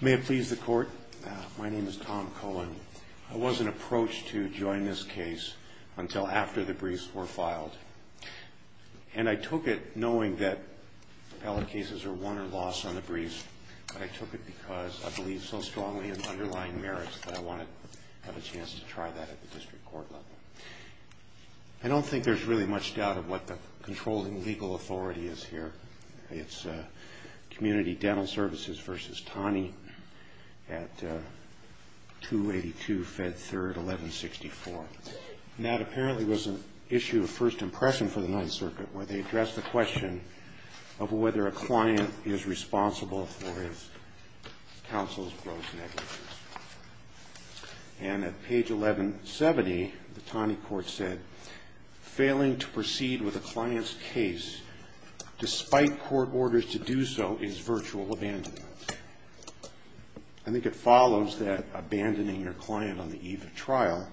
May it please the Court, my name is Tom Cohen. I wasn't approached to join this case until after the briefs were filed. And I took it knowing that appellate cases are won or lost on the briefs. I took it because I believe so strongly in underlying merits that I wanted to have a chance to try that at the district court level. I don't think there's really much doubt of what the controlling legal authority is here. It's Community Dental Services v. Taney at 282 Fed 3rd, 1164. And that apparently was an issue of first impression for the Ninth Circuit where they addressed the question of whether a client is responsible for his counsel's gross negligence. And at page 1170, the Taney court said, Failing to proceed with a client's case despite court orders to do so is virtual abandonment. I think it follows that abandoning your client on the eve of trial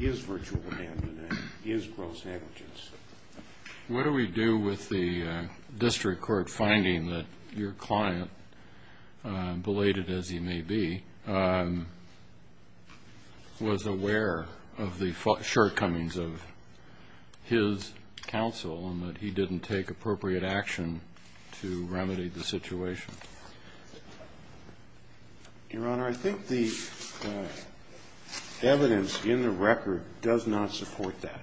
is virtual abandonment, is gross negligence. What do we do with the district court finding that your client, belated as he may be, was aware of the shortcomings of his counsel and that he didn't take appropriate action to remedy the situation? Your Honor, I think the evidence in the record does not support that.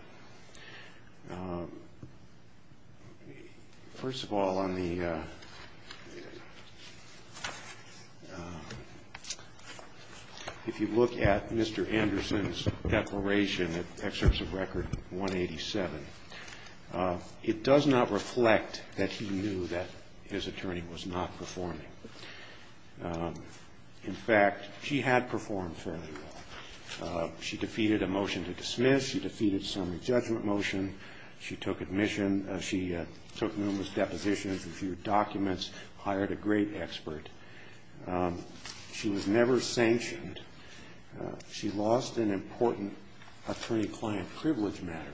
First of all, on the ‑‑ if you look at Mr. Anderson's declaration, at excerpts of record 187, it does not reflect that he knew that his attorney was not performing. In fact, she had performed fairly well. She defeated a motion to dismiss. She defeated some judgment motion. She took admission. She took numerous depositions, a few documents, hired a great expert. She was never sanctioned. She lost an important attorney‑client privilege matter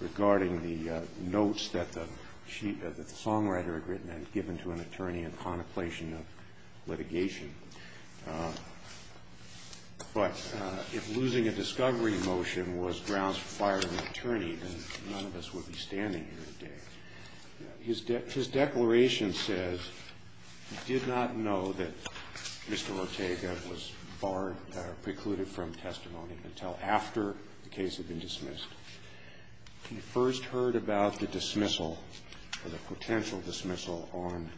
regarding the notes that the songwriter had written and given to an attorney in contemplation of litigation. But if losing a discovery motion was grounds for firing an attorney, then none of us would be standing here today. His declaration says he did not know that Mr. Ortega was barred or precluded from testimony until after the case had been dismissed. He first heard about the dismissal or the potential dismissal on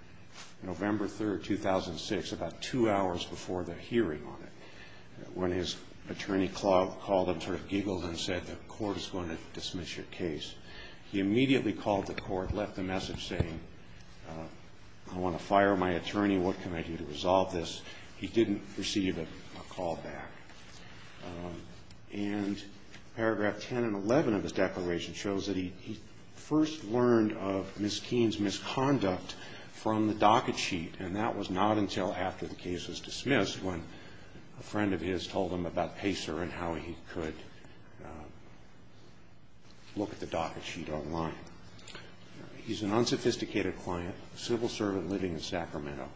November 3rd, 2006, about two hours before the hearing on it, when his attorney called him, sort of giggled and said, the court is going to dismiss your case. He immediately called the court, left a message saying, I want to fire my attorney. What can I do to resolve this? He didn't receive a call back. And paragraph 10 and 11 of his declaration shows that he first learned of Ms. Keene's misconduct from the docket sheet, and that was not until after the case was dismissed when a friend of his told him about Pacer and how he could look at the docket sheet online. He's an unsophisticated client, civil servant living in Sacramento.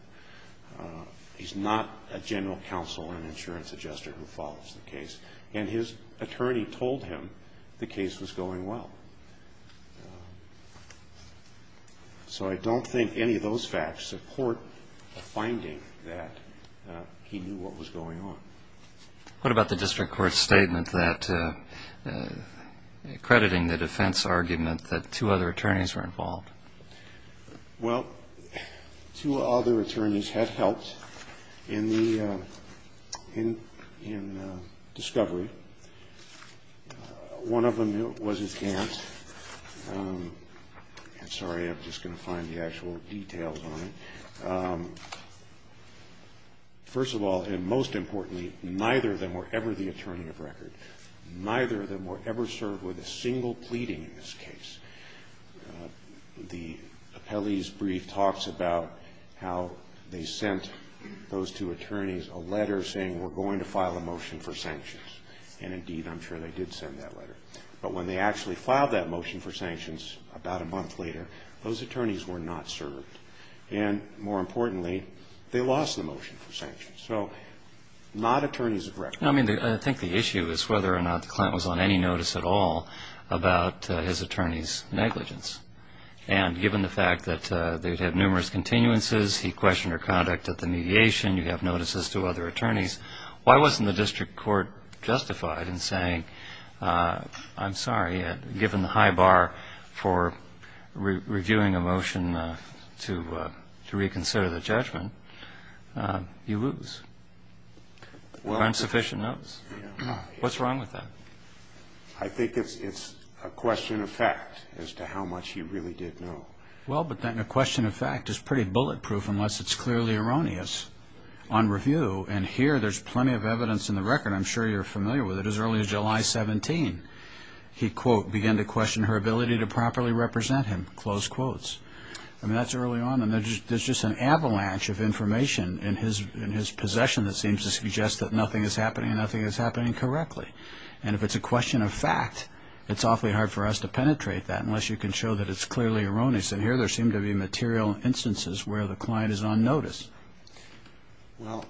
He's not a general counsel or an insurance adjuster who follows the case. And his attorney told him the case was going well. So I don't think any of those facts support a finding that he knew what was going on. What about the district court's statement that, crediting the defense argument that two other attorneys were involved? Well, two other attorneys had helped in the discovery. One of them was his aunt. I'm sorry, I'm just going to find the actual details on it. First of all, and most importantly, neither of them were ever the attorney of record. Neither of them were ever served with a single pleading in this case. The appellee's brief talks about how they sent those two attorneys a letter saying, we're going to file a motion for sanctions. And indeed, I'm sure they did send that letter. But when they actually filed that motion for sanctions about a month later, those attorneys were not served. And more importantly, they lost the motion for sanctions. So not attorneys of record. I mean, I think the issue is whether or not the client was on any notice at all about his attorney's negligence. And given the fact that they'd had numerous continuances, he questioned her conduct at the mediation, you have notices to other attorneys, why wasn't the district court justified in saying, I'm sorry, given the high bar for reviewing a motion to reconsider the judgment, you lose. There aren't sufficient notes. What's wrong with that? I think it's a question of fact as to how much he really did know. Well, but then a question of fact is pretty bulletproof unless it's clearly erroneous on review. And here there's plenty of evidence in the record. I'm sure you're familiar with it. As early as July 17, he, quote, began to question her ability to properly represent him, close quotes. I mean, that's early on, and there's just an avalanche of information in his possession that seems to suggest that nothing is happening and nothing is happening correctly. And if it's a question of fact, it's awfully hard for us to penetrate that unless you can show that it's clearly erroneous. And here there seem to be material instances where the client is on notice. Well,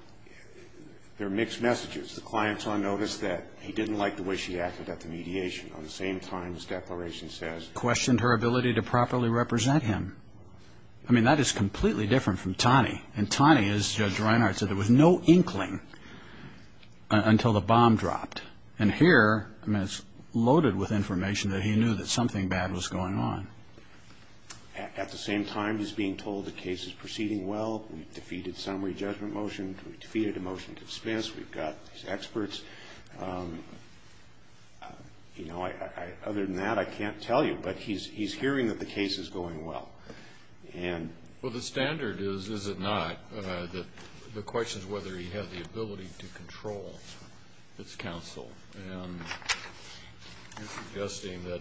there are mixed messages. The client's on notice that he didn't like the way she acted at the mediation on the same time, this declaration says. Questioned her ability to properly represent him. I mean, that is completely different from Taney. And Taney, as Judge Reinhardt said, there was no inkling until the bomb dropped. And here, I mean, it's loaded with information that he knew that something bad was going on. At the same time, he's being told the case is proceeding well. We've defeated summary judgment motions. We've defeated a motion to dispense. We've got these experts. You know, other than that, I can't tell you. But he's hearing that the case is going well. Well, the standard is, is it not, the question is whether he has the ability to control his counsel. And you're suggesting that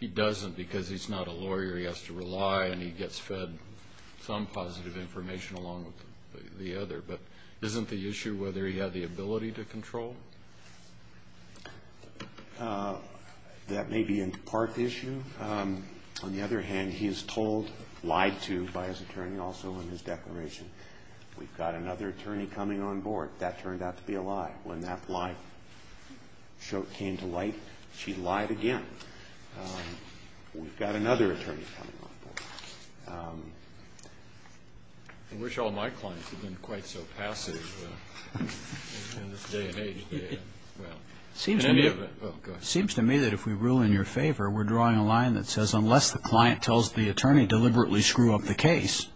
he doesn't because he's not a lawyer. He has to rely and he gets fed some positive information along with the other. But isn't the issue whether he had the ability to control? That may be in part the issue. On the other hand, he is told, lied to by his attorney also in his declaration. We've got another attorney coming on board. That turned out to be a lie. When that lie came to light, she lied again. We've got another attorney coming on board. I wish all my clients had been quite so passive in this day and age. It seems to me that if we rule in your favor, we're drawing a line that says, unless the client tells the attorney deliberately screw up the case,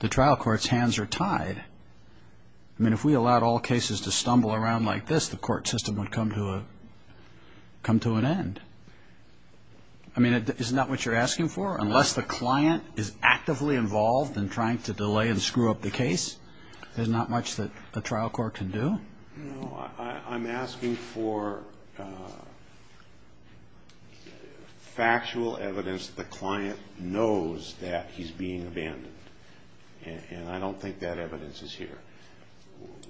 the trial court's hands are tied. I mean, if we allowed all cases to stumble around like this, the court system would come to an end. I mean, isn't that what you're asking for? Unless the client is actively involved in trying to delay and screw up the case, there's not much that a trial court can do? No, I'm asking for factual evidence that the client knows that he's being abandoned. And I don't think that evidence is here.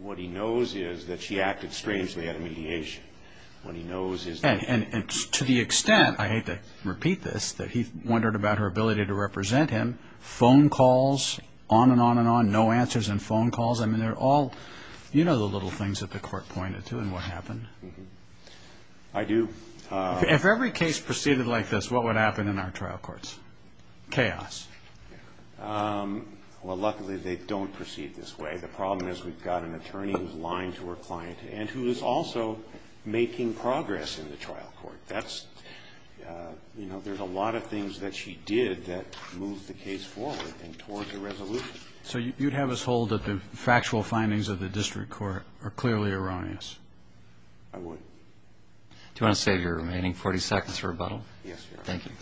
What he knows is that she acted strangely out of mediation. And to the extent, I hate to repeat this, that he wondered about her ability to represent him, phone calls, on and on and on, no answers in phone calls. I mean, they're all, you know, the little things that the court pointed to and what happened. I do. If every case proceeded like this, what would happen in our trial courts? Chaos. Well, luckily, they don't proceed this way. The problem is we've got an attorney who's lying to her client and who is also making progress in the trial court. That's, you know, there's a lot of things that she did that moved the case forward and towards a resolution. So you'd have us hold that the factual findings of the district court are clearly erroneous? I would. Do you want to save your remaining 40 seconds for rebuttal? Yes, Your Honor. Thank you.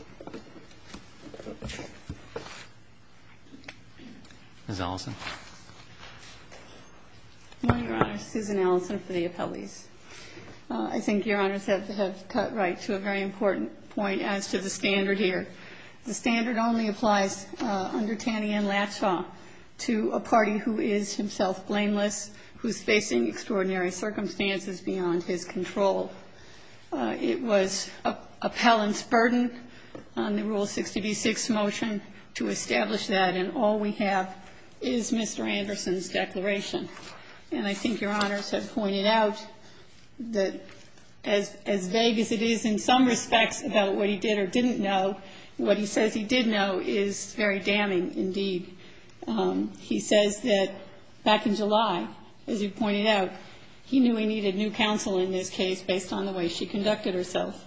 Ms. Ellison. Good morning, Your Honor. Susan Ellison for the appellees. I think Your Honors have cut right to a very important point as to the standard here. The standard only applies under Taneyan-Latshaw to a party who is himself blameless, who is facing extraordinary circumstances beyond his control. It was appellant's burden on the Rule 66 motion to establish that, and all we have is Mr. Anderson's declaration. And I think Your Honors have pointed out that as vague as it is in some respects about what he did or didn't know, what he says he did know is very damning indeed. He says that back in July, as you pointed out, he knew he needed new counsel in this case based on the way she conducted herself.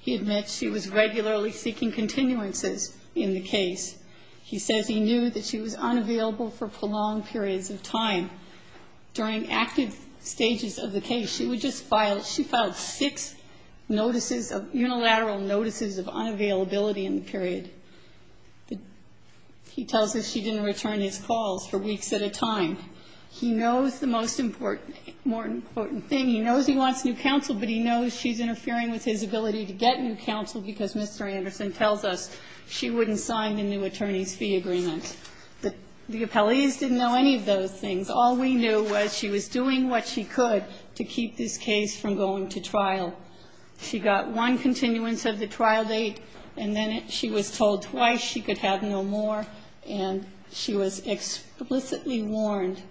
He admits she was regularly seeking continuances in the case. He says he knew that she was unavailable for prolonged periods of time. During active stages of the case, she would just file ‑‑ she filed six notices of ‑‑ unilateral notices of unavailability in the period. He tells us she didn't return his calls for weeks at a time. He knows the most important ‑‑ more important thing, he knows he wants new counsel, but he knows she's interfering with his ability to get new counsel because Mr. Anderson tells us she wouldn't sign the new attorney's fee agreement. The appellees didn't know any of those things. All we knew was she was doing what she could to keep this case from going to trial. She got one continuance of the trial date, and then she was told twice she could have no more, and she was explicitly warned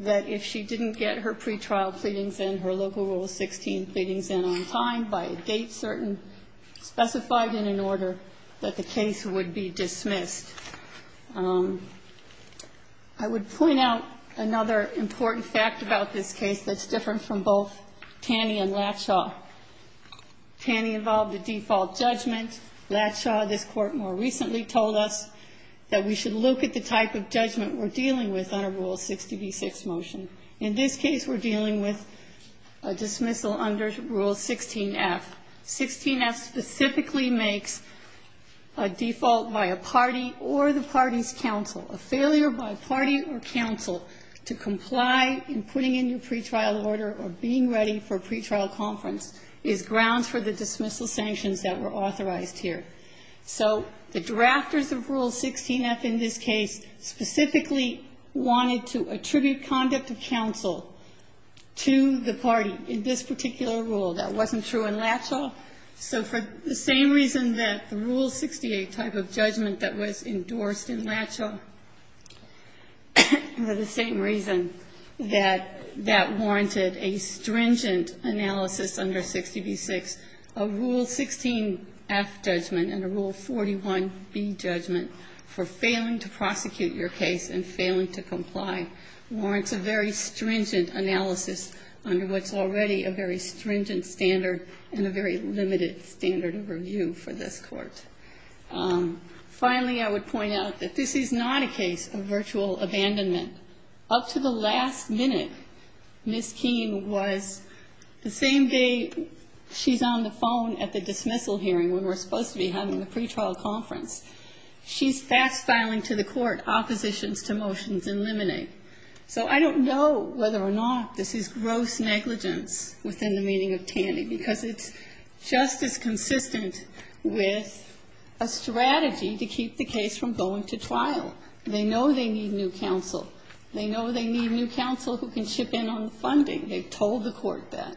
that if she didn't get her pretrial pleadings in, her Local Rule 16 pleadings in on time by a date certain, specified in an order, that the case would be dismissed. I would point out another important fact about this case that's different from both Taney and Latshaw. Taney involved a default judgment. Latshaw, this Court more recently, told us that we should look at the type of judgment we're dealing with under Rule 60b6 motion. In this case, we're dealing with a dismissal under Rule 16f. 16f specifically makes a default by a party or the party's counsel, a failure by a party or counsel to comply in putting in your pretrial order or being ready for a pretrial conference is grounds for the dismissal sanctions that were authorized here. So the drafters of Rule 16f in this case specifically wanted to attribute conduct of counsel to the party in this particular rule. That wasn't true in Latshaw. So for the same reason that the Rule 68 type of judgment that was endorsed in Latshaw for the same reason that that warranted a stringent analysis under 60b6, a Rule 16f judgment and a Rule 41b judgment for failing to prosecute your case and failing to comply warrants a very stringent analysis under what's already a very stringent standard and a very limited standard of review for this Court. Finally, I would point out that this is not a case of virtual abandonment. Up to the last minute, Ms. Keene was, the same day she's on the phone at the dismissal hearing when we're supposed to be having the pretrial conference, she's fast-filing to the Court oppositions to motions in limine. So I don't know whether or not this is gross negligence within the meaning of Tandy because it's just as consistent with a strategy to keep the case from going to trial. They know they need new counsel. They know they need new counsel who can chip in on the funding. They've told the Court that.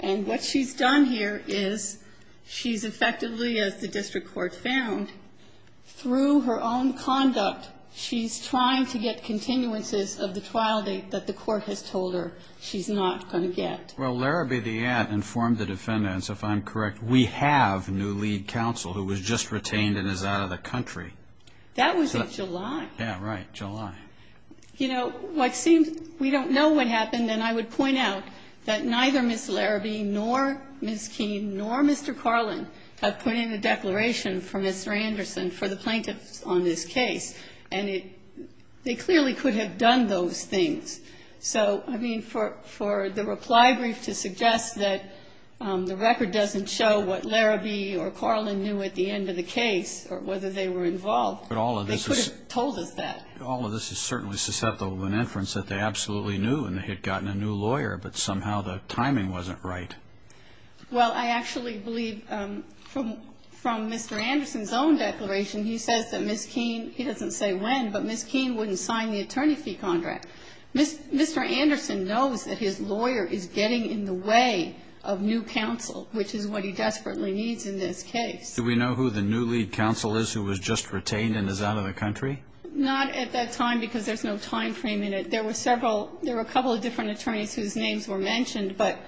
And what she's done here is she's effectively, as the district court found, through her own conduct, she's trying to get continuances of the trial date that the Court has told her she's not going to get. Well, Larrabee, the ad, informed the defendants, if I'm correct, we have new lead counsel who was just retained and is out of the country. That was in July. Yeah, right, July. You know, what seems, we don't know what happened. And I would point out that neither Ms. Larrabee nor Ms. Keene nor Mr. Carlin have put in a declaration for Mr. Anderson for the plaintiffs on this case. And it, they clearly could have done those things. So, I mean, for the reply brief to suggest that the record doesn't show what Larrabee or Carlin knew at the end of the case or whether they were involved, they could have told us that. But all of this is certainly susceptible to an inference that they absolutely knew and they had gotten a new lawyer, but somehow the timing wasn't right. Well, I actually believe from Mr. Anderson's own declaration, he says that Ms. Keene, he doesn't say when, but Ms. Keene wouldn't sign the attorney fee contract. Mr. Anderson knows that his lawyer is getting in the way of new counsel, which is what he desperately needs in this case. Do we know who the new lead counsel is who was just retained and is out of the country? Not at that time because there's no time frame in it. There were several, there were a couple of different attorneys whose names were mentioned, but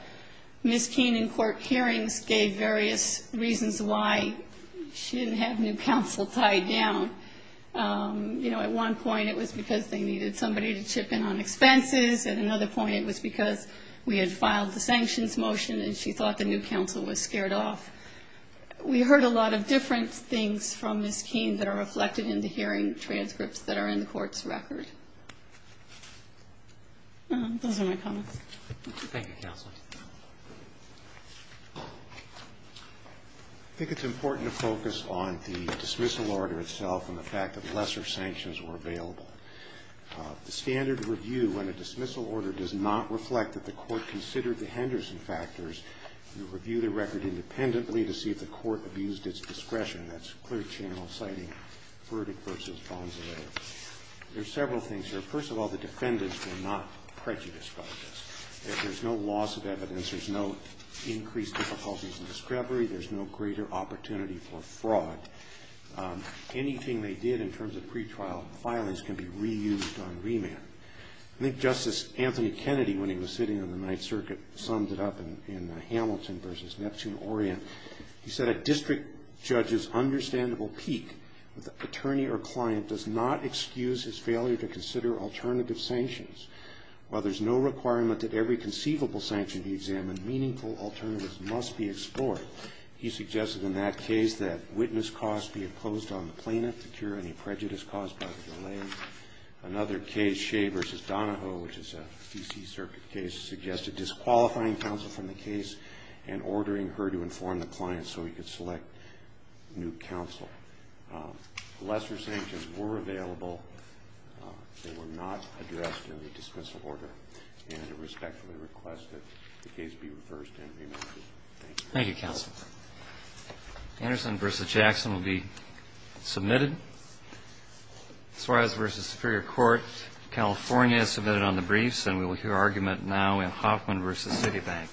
Ms. Keene in court hearings gave various reasons why she didn't have new counsel tied down. You know, at one point it was because they needed somebody to chip in on expenses. At another point it was because we had filed the sanctions motion and she thought the new counsel was scared off. We heard a lot of different things from Ms. Keene that are reflected in the hearing transcripts that are in the court's record. Those are my comments. Thank you, counsel. I think it's important to focus on the dismissal order itself and the fact that lesser sanctions were available. The standard review in a dismissal order does not reflect that the court considered the Henderson factors. We reviewed the record independently to see if the court abused its discretion. That's clear channel citing verdict versus bonds available. There are several things here. First of all, the defendants were not prejudiced by this. There's no loss of evidence. There's no increased difficulties in discovery. There's no greater opportunity for fraud. Anything they did in terms of pretrial filings can be reused on remand. I think Justice Anthony Kennedy, when he was sitting on the Ninth Circuit, summed it up in Hamilton versus Neptune Orient. He said, A district judge's understandable peak with attorney or client does not excuse his failure to consider alternative sanctions. While there's no requirement that every conceivable sanction be examined, meaningful alternatives must be explored. He suggested in that case that witness costs be imposed on the plaintiff to cure any prejudice caused by the delay. Another case, Shea versus Donahoe, which is a D.C. Circuit case, suggested disqualifying counsel from the case and ordering her to inform the client so he could select new counsel. Lesser sanctions were available. They were not addressed in the dismissal order, and I respectfully request that the case be reversed and remanded. Thank you. Thank you, counsel. Anderson versus Jackson will be submitted. Suarez versus Superior Court, California, submitted on the briefs, and we will hear argument now in Hoffman versus Citibank. Thank you.